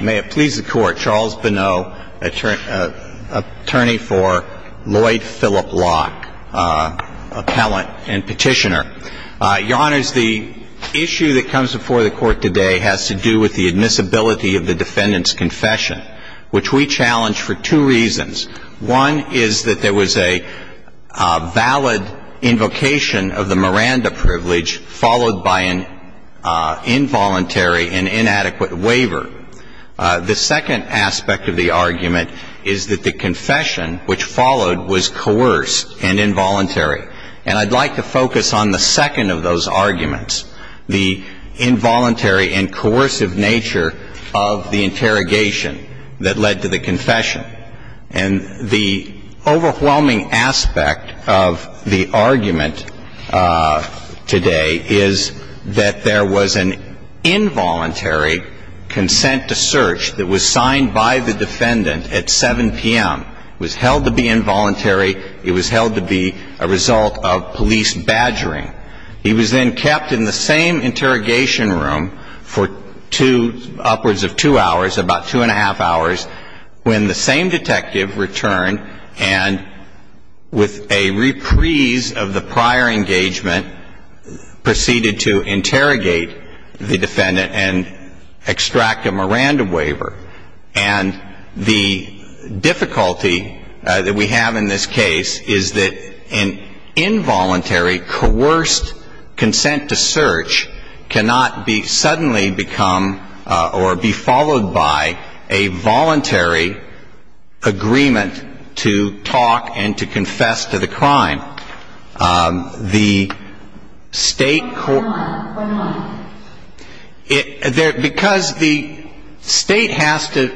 May it please the Court, Charles Bonneau, attorney for Lloyd Philip Locke, appellant and petitioner. Your Honors, the issue that comes before the Court today has to do with the admissibility of the defendant's confession, which we challenge for two reasons. One is that there was a valid invocation of the Miranda privilege followed by an involuntary and inadequate waiver. The second aspect of the argument is that the confession which followed was coerced and involuntary. And I'd like to focus on the second of those arguments, the involuntary and coercive nature of the interrogation that led to the confession. And the overwhelming aspect of the argument today is that there was an involuntary consent to search that was signed by the defendant at 7 p.m. It was held to be involuntary. It was held to be a result of police badgering. He was then kept in the same interrogation room for two, upwards of two hours, about two and a half hours, when the same detective returned and with a reprise of the prior engagement proceeded to interrogate the defendant and extract a Miranda waiver. And the difficulty that we have in this case is that an involuntary, coerced consent to search cannot be suddenly become or be followed by a voluntary agreement to talk and to confess to the crime. The state... Why not? Why not? Because the state has to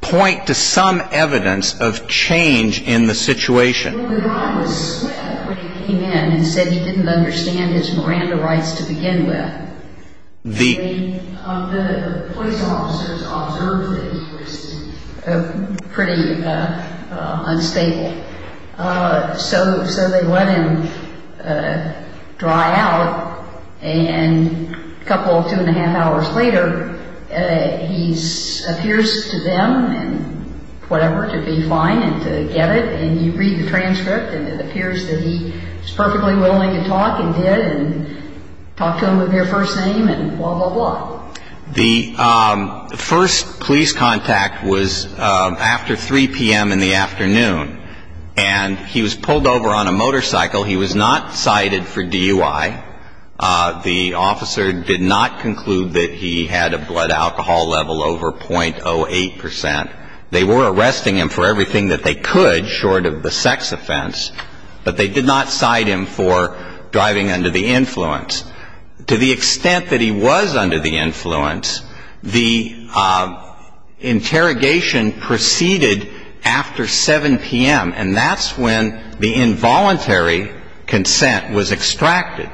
point to some evidence of change in the situation. Well, the guy was swift when he came in and said he didn't understand his Miranda rights to begin with. The police officers observed that he was pretty unstable, so they let him dry out. And a couple, two and a half hours later, he appears to them and whatever to be fine and to get it. And you read the transcript and it appears that he was perfectly willing to talk and did and talked to them with their first name and blah, blah, blah. The first police contact was after 3 p.m. in the afternoon. And he was pulled over on a motorcycle. He was not cited for DUI. The officer did not conclude that he had a blood alcohol level over .08 percent. They were arresting him for everything that they could short of the sex offense, but they did not cite him for driving under the influence. To the extent that he was under the influence, the interrogation proceeded after 7 p.m. And that's when the involuntary consent was extracted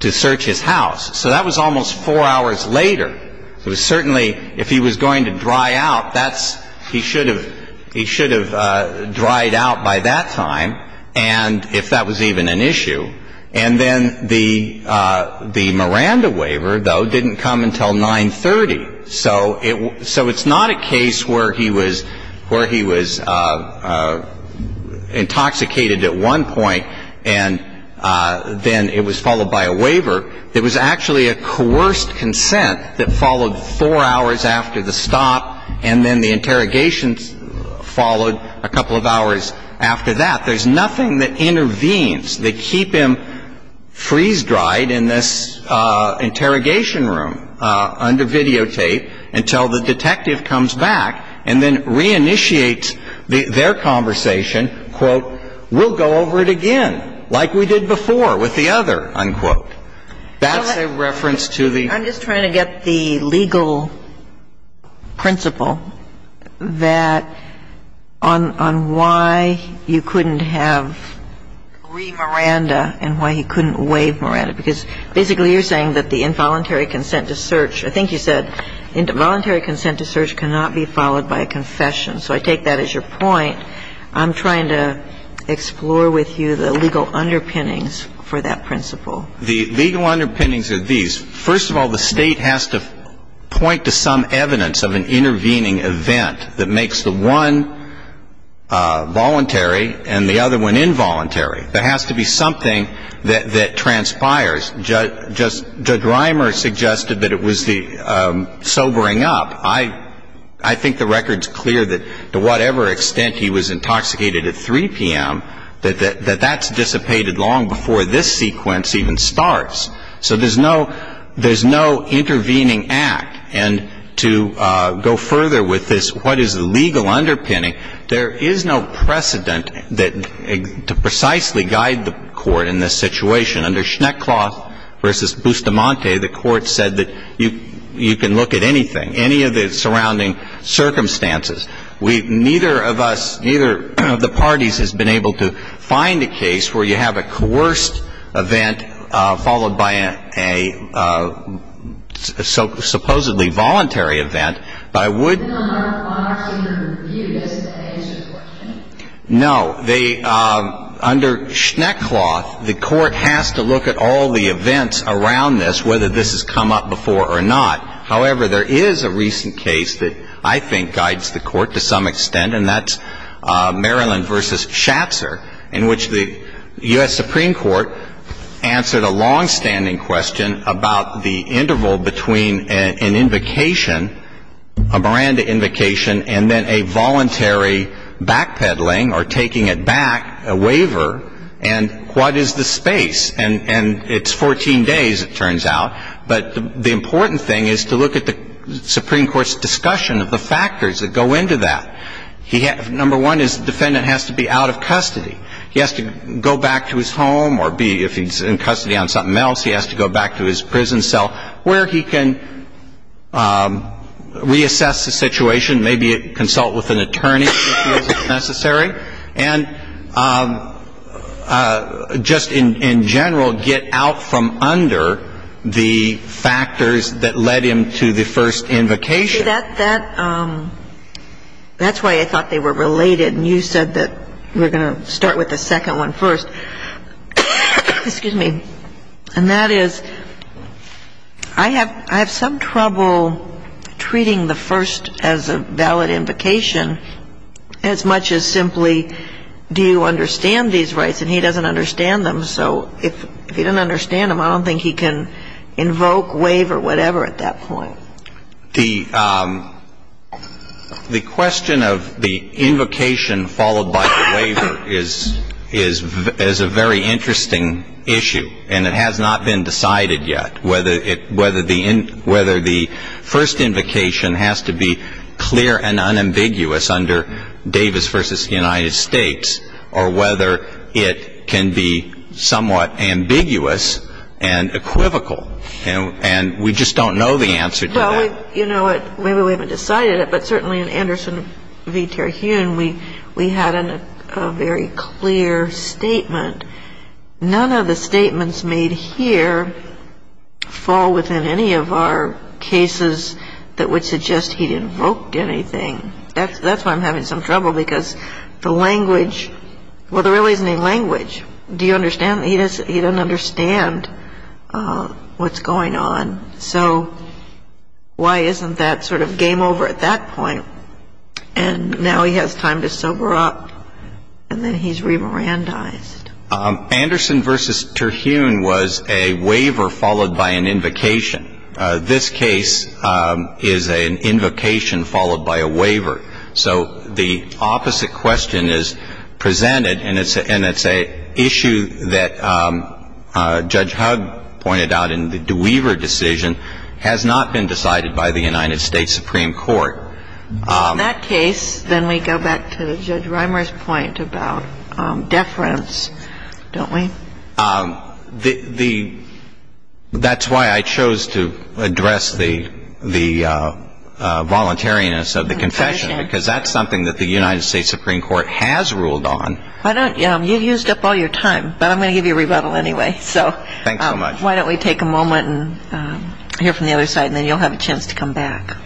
to search his house. So that was almost four hours later. It was certainly if he was going to dry out, that's he should have dried out by that time and if that was even an issue. And then the Miranda waiver, though, didn't come until 930. So it's not a case where he was intoxicated at one point and then it was followed by a waiver. It was actually a coerced consent that followed four hours after the stop and then the interrogation followed a couple of hours after that. There's nothing that intervenes that keep him freeze-dried in this interrogation room under videotape until the detective comes back and then reinitiates their conversation, quote, we'll go over it again like we did before with the other, unquote. That's a reference to the ---- I'm just trying to get the legal principle that on why you couldn't have re-Miranda and why he couldn't waive Miranda. Because basically you're saying that the involuntary consent to search, I think you said involuntary consent to search cannot be followed by a confession. So I take that as your point. I'm trying to explore with you the legal underpinnings for that principle. The legal underpinnings are these. First of all, the State has to point to some evidence of an intervening event that makes the one voluntary and the other one involuntary. There has to be something that transpires. Judge Reimer suggested that it was the sobering up. I think the record's clear that to whatever extent he was intoxicated at 3 p.m., that that's dissipated long before this sequence even starts. So there's no intervening act. And to go further with this, what is the legal underpinning, there is no precedent to precisely guide the Court in this situation. Under Schneckloth v. Bustamante, the Court said that you can look at anything, any of the surrounding circumstances. Neither of us, neither of the parties has been able to find a case where you have a coerced event followed by a supposedly voluntary event. But I would — But not on our part to even review this at any situation? No. Under Schneckloth, the Court has to look at all the events around this, whether this has come up before or not. However, there is a recent case that I think guides the Court to some extent, and that's Maryland v. Schatzer, in which the U.S. Supreme Court answered a longstanding question about the interval between an invocation, a Miranda invocation, and then a voluntary backpedaling or taking it back, a waiver. And what is the space? And it's 14 days, it turns out. But the important thing is to look at the Supreme Court's discussion of the factors that go into that. Number one is the defendant has to be out of custody. He has to go back to his home or be, if he's in custody on something else, he has to go back to his prison cell where he can reassess the situation, maybe consult with an attorney if he feels it's necessary, and just in general get out from under the factors that led him to the first invocation. See, that's why I thought they were related, and you said that we're going to start with the second one first. Excuse me. And that is, I have some trouble treating the first as a valid invocation as much as simply do you understand these rights, and he doesn't understand them. So if he doesn't understand them, I don't think he can invoke, waive, or whatever at that point. The question of the invocation followed by the waiver is a very interesting issue, and it has not been decided yet whether the first invocation has to be clear and unambiguous under Davis v. United States or whether it can be somewhat ambiguous and equivocal. And we just don't know the answer to that. Well, you know what? Maybe we haven't decided it, but certainly in Anderson v. Terhune, we had a very clear statement. None of the statements made here fall within any of our cases that would suggest he'd invoked anything. That's why I'm having some trouble because the language, well, there really isn't any language. Do you understand? He doesn't understand what's going on, so why isn't that sort of game over at that point? And now he has time to sober up, and then he's remirandized. Anderson v. Terhune was a waiver followed by an invocation. This case is an invocation followed by a waiver. So the opposite question is presented, and it's an issue that Judge Hugg pointed out in the DeWeaver decision has not been decided by the United States Supreme Court. In that case, then we go back to Judge Rimer's point about deference, don't we? That's why I chose to address the voluntariness of the confession, because that's something that the United States Supreme Court has ruled on. Thank you. You used up all your time, but I'm going to give you a rebuttal anyway. Thank you so much. Why don't we take a moment and hear from the other side, and then you'll have a chance to come back.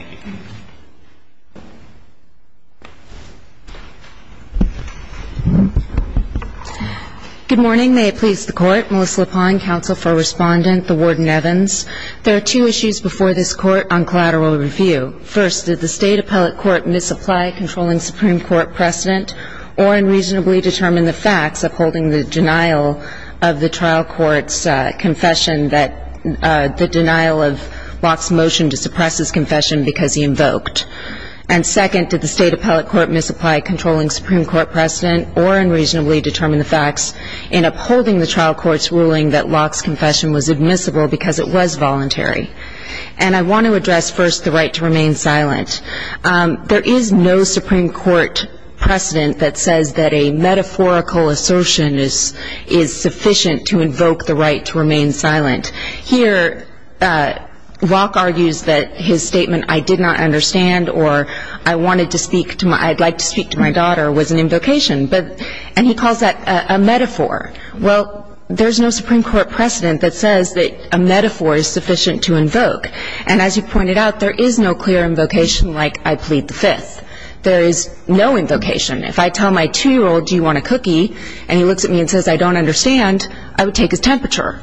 Good morning. May it please the Court. Melissa LaPone, Counsel for Respondent, the Warden-Evans. There are two issues before this Court on collateral review. First, did the State appellate court misapply controlling Supreme Court precedent or unreasonably determine the facts upholding the denial of the trial court's confession that the denial of Locke's motion to suppress his confession because he invoked? And second, did the State appellate court misapply controlling Supreme Court precedent or unreasonably determine the facts in upholding the trial court's ruling that Locke's confession was admissible because it was voluntary? And I want to address first the right to remain silent. There is no Supreme Court precedent that says that a metaphorical assertion is sufficient to invoke the right to remain silent. Here, Locke argues that his statement, I did not understand or I wanted to speak to my – I'd like to speak to my daughter, was an invocation. But – and he calls that a metaphor. Well, there's no Supreme Court precedent that says that a metaphor is sufficient to invoke. And as you pointed out, there is no clear invocation like I plead the fifth. There is no invocation. If I tell my 2-year-old, do you want a cookie, and he looks at me and says, I don't understand, I would take his temperature.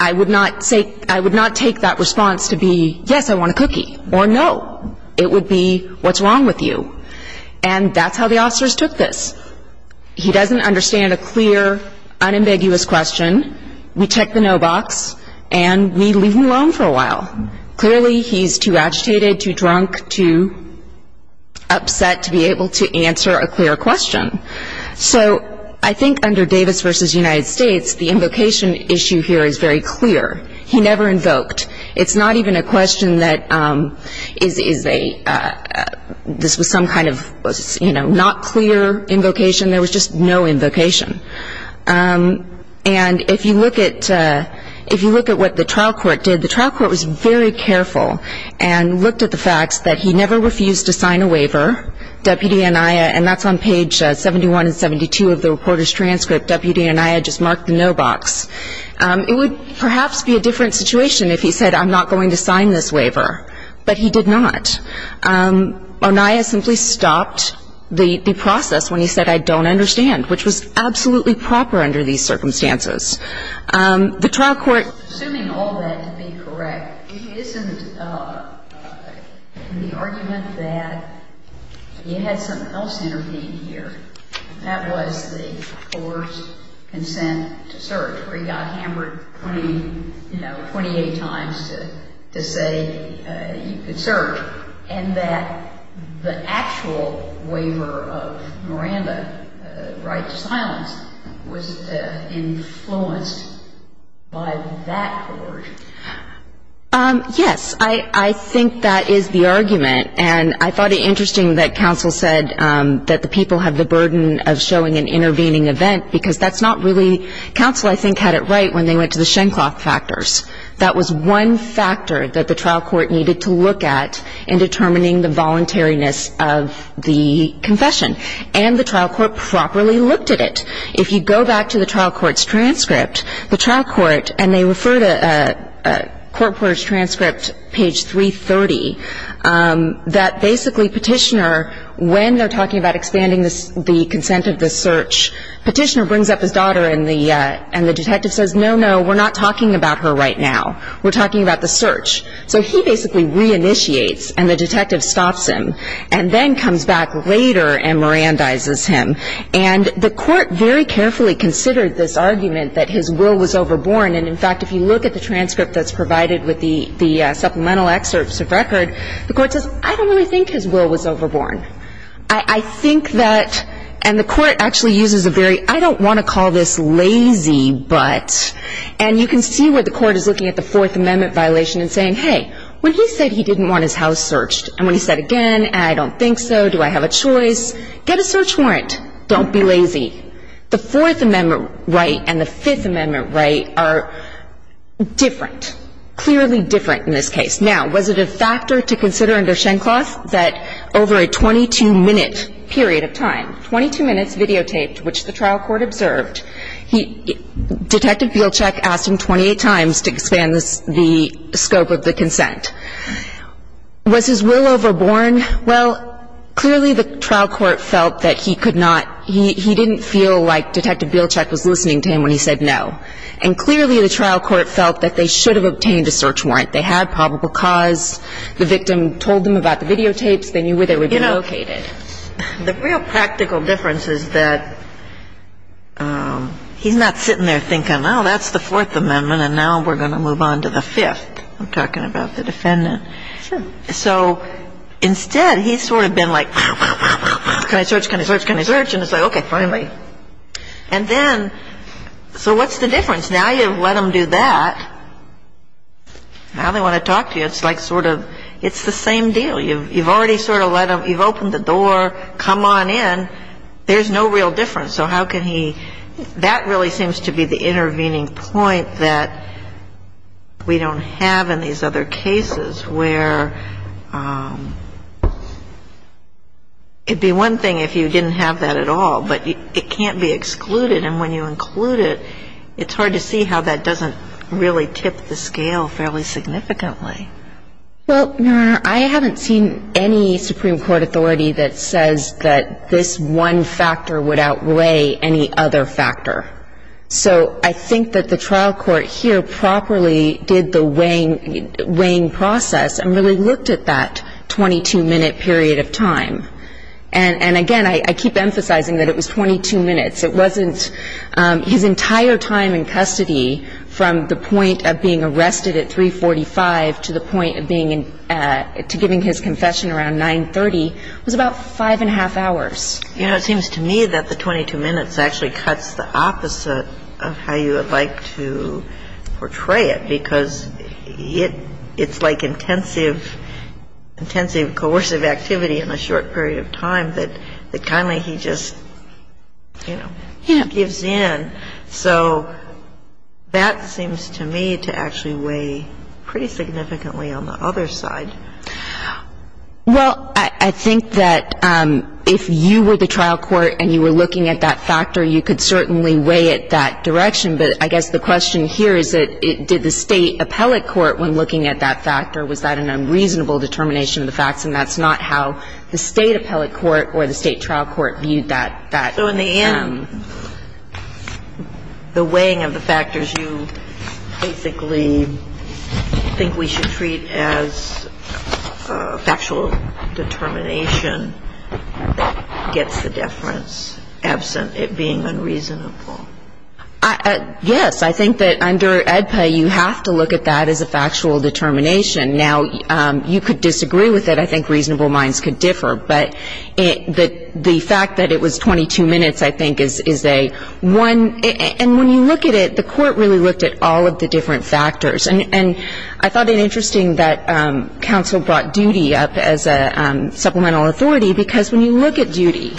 I would not say – I would not take that response to be, yes, I want a cookie, or no. It would be, what's wrong with you? And that's how the officers took this. He doesn't understand a clear, unambiguous question. We check the no box, and we leave him alone for a while. Clearly, he's too agitated, too drunk, too upset to be able to answer a clear question. So I think under Davis v. United States, the invocation issue here is very clear. He never invoked. It's not even a question that is a – this was some kind of, you know, not clear invocation. There was just no invocation. And if you look at – if you look at what the trial court did, the trial court was very careful and looked at the facts that he never refused to sign a waiver, Deputy Anaya, and that's on page 71 and 72 of the reporter's transcript. Deputy Anaya just marked the no box. It would perhaps be a different situation if he said, I'm not going to sign this waiver. But he did not. Anaya simply stopped the process when he said, I don't understand, which was absolutely proper under these circumstances. The trial court – you know, 28 times to say you could search. And that the actual waiver of Miranda, right to silence, was influenced by that court. Yes. I think that is the argument. And I thought it interesting that counsel said that the people have the burden of showing an intervening event because that's not really – counsel, I think, had it right when they went to the Shencloth factors. That was one factor that the trial court needed to look at in determining the voluntariness of the confession. And the trial court properly looked at it. If you go back to the trial court's transcript, the trial court – and they refer to court reporter's transcript, page 330, that basically petitioner, when they're talking about expanding the consent of the search, petitioner brings up his daughter and the detective says, no, no, we're not talking about her right now. We're talking about the search. So he basically reinitiates and the detective stops him and then comes back later and Mirandizes him. And the court very carefully considered this argument that his will was overborn. And, in fact, if you look at the transcript that's provided with the supplemental excerpts of record, the court says, I don't really think his will was overborn. I think that – and the court actually uses a very – I don't want to call this lazy, but – and you can see where the court is looking at the Fourth Amendment violation and saying, hey, when he said he didn't want his house searched and when he said again, I don't think so, do I have a choice, get a search warrant. Don't be lazy. The Fourth Amendment right and the Fifth Amendment right are different, clearly different in this case. Now, was it a factor to consider under Shencloth that over a 22-minute period of time, 22 minutes videotaped, which the trial court observed, he – Detective Bielcheck asked him 28 times to expand the scope of the consent. Was his will overborn? Well, clearly the trial court felt that he could not – he didn't feel like Detective Bielcheck was listening to him when he said no. And clearly the trial court felt that they should have obtained a search warrant. They had probable cause. The victim told them about the videotapes. They knew where they would be located. You know, the real practical difference is that he's not sitting there thinking, oh, that's the Fourth Amendment and now we're going to move on to the Fifth. I'm talking about the defendant. Sure. So instead, he's sort of been like, can I search, can I search, can I search, and it's like, okay, finally. And then – so what's the difference? Now you've let him do that. Now they want to talk to you. It's like sort of – it's the same deal. You've already sort of let him – you've opened the door, come on in. There's no real difference. So how can he – that really seems to be the intervening point that we don't have in these other cases, where it would be one thing if you didn't have that at all, but it can't be excluded. And when you include it, it's hard to see how that doesn't really tip the scale fairly significantly. Well, Your Honor, I haven't seen any Supreme Court authority that says that this one factor would outweigh any other factor. So I think that the trial court here properly did the weighing process and really looked at that 22-minute period of time. And again, I keep emphasizing that it was 22 minutes. It wasn't – his entire time in custody from the point of being arrested at 345 to the point of being – to giving his confession around 930 was about five and a half hours. You know, it seems to me that the 22 minutes actually cuts the opposite of how you would like to portray it So that seems to me to actually weigh pretty significantly on the other side. Well, I think that if you were the trial court and you were looking at that factor, you could certainly weigh it that direction. But I guess the question here is that did the State appellate court, when looking at that factor, was that an unreasonable determination of the facts? And that's not how the State appellate court or the State trial court viewed that. So in the end, the weighing of the factors you basically think we should treat as factual determination that gets the deference absent it being unreasonable. Yes. I think that under AEDPA, you have to look at that as a factual determination. Now, you could disagree with it. I think reasonable minds could differ. But the fact that it was 22 minutes, I think, is a one. And when you look at it, the court really looked at all of the different factors. And I thought it interesting that counsel brought duty up as a supplemental authority, because when you look at duty,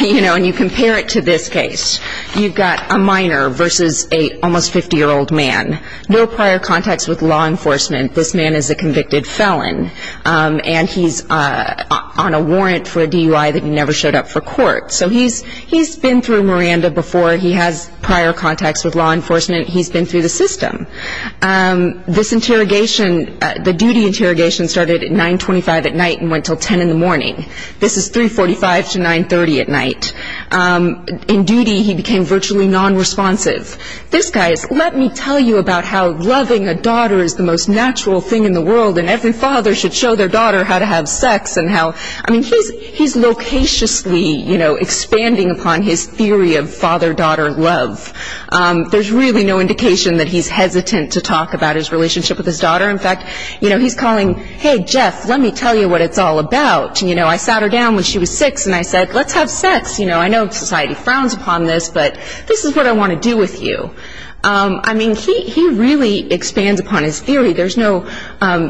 you know, and you compare it to this case, you've got a minor versus a almost 50-year-old man. No prior contacts with law enforcement. This man is a convicted felon. And he's on a warrant for a DUI that he never showed up for court. So he's been through Miranda before. He has prior contacts with law enforcement. He's been through the system. This interrogation, the duty interrogation started at 925 at night and went until 10 in the morning. This is 345 to 930 at night. In duty, he became virtually nonresponsive. This guy is, let me tell you about how loving a daughter is the most natural thing in the world and every father should show their daughter how to have sex and how. I mean, he's locatiously, you know, expanding upon his theory of father-daughter love. There's really no indication that he's hesitant to talk about his relationship with his daughter. In fact, you know, he's calling, hey, Jeff, let me tell you what it's all about. You know, I sat her down when she was six and I said, let's have sex. You know, I know society frowns upon this, but this is what I want to do with you. I mean, he really expands upon his theory. There's no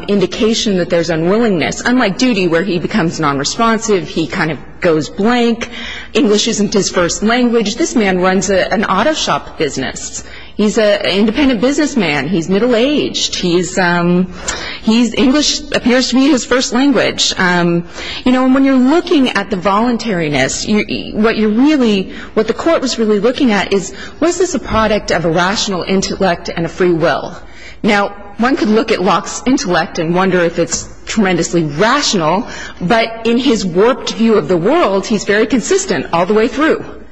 indication that there's unwillingness. Unlike duty where he becomes nonresponsive, he kind of goes blank. English isn't his first language. This man runs an auto shop business. He's an independent businessman. He's middle-aged. He's English appears to be his first language. You know, when you're looking at the voluntariness, what you're really, what the court was really looking at is was this a product of a rational intellect and a free will? Now, one could look at Locke's intellect and wonder if it's tremendously rational, but in his warped view of the world, he's very consistent all the way through.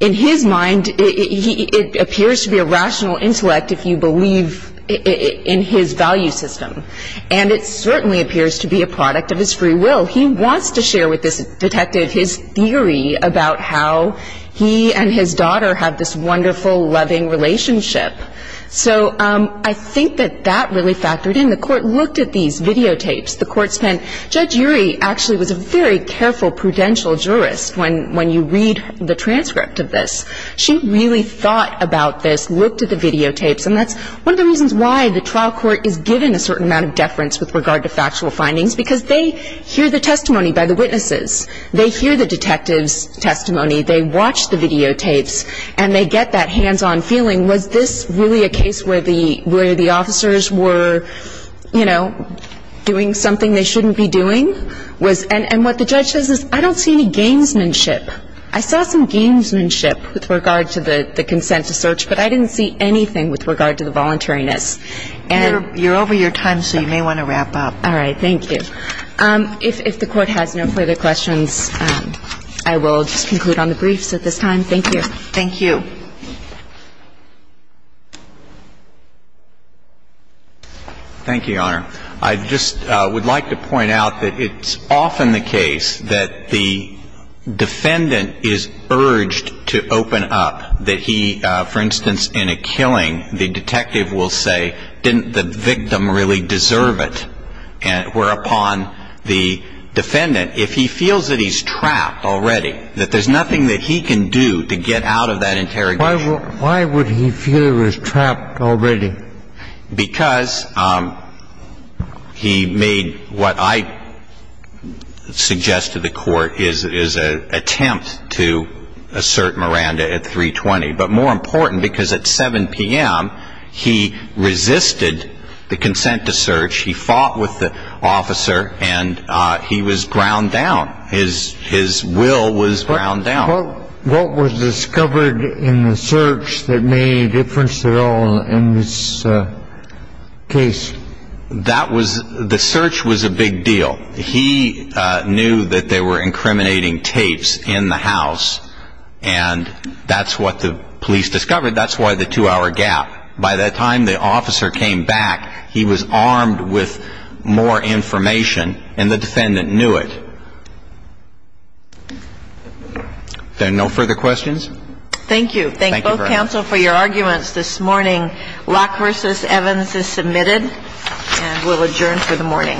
In his mind, it appears to be a rational intellect if you believe in his value system. And it certainly appears to be a product of his free will. He wants to share with this detective his theory about how he and his daughter have this wonderful, loving relationship. So I think that that really factored in. The court looked at these videotapes. The court spent, Judge Urey actually was a very careful, prudential jurist when you read the transcript of this. She really thought about this, looked at the videotapes, and that's one of the reasons why the trial court is given a certain amount of deference with regard to factual findings, because they hear the testimony by the witnesses. They hear the detective's testimony. They watch the videotapes, and they get that hands-on feeling. Was this really a case where the officers were, you know, doing something they shouldn't be doing? And what the judge says is, I don't see any gamesmanship. I saw some gamesmanship with regard to the consent to search, but I didn't see anything with regard to the voluntariness. And you're over your time, so you may want to wrap up. All right. Thank you. If the Court has no further questions, I will just conclude on the briefs at this time. Thank you. Thank you, Your Honor. I just would like to point out that it's often the case that the defendant is urged to open up, that he, for instance, in a killing, the detective will say, didn't the victim really deserve it? And whereupon the defendant, if he feels that he's trapped already, that there's nothing that he can do to get out of that interrogation. Why would he feel he was trapped already? Because he made what I suggest to the Court is an attempt to assert Miranda at 3.20. But more important, because at 7 p.m., he resisted the consent to search. He fought with the officer, and he was ground down. His will was ground down. What was discovered in the search that made any difference at all in this case? That was the search was a big deal. He knew that they were incriminating tapes in the house, and that's what the police discovered. That's why the two-hour gap. By that time, the officer came back. He was armed with more information, and the defendant knew it. Then no further questions? Thank you. Thank you both, counsel, for your arguments this morning. Locke v. Evans is submitted, and we'll adjourn for the morning.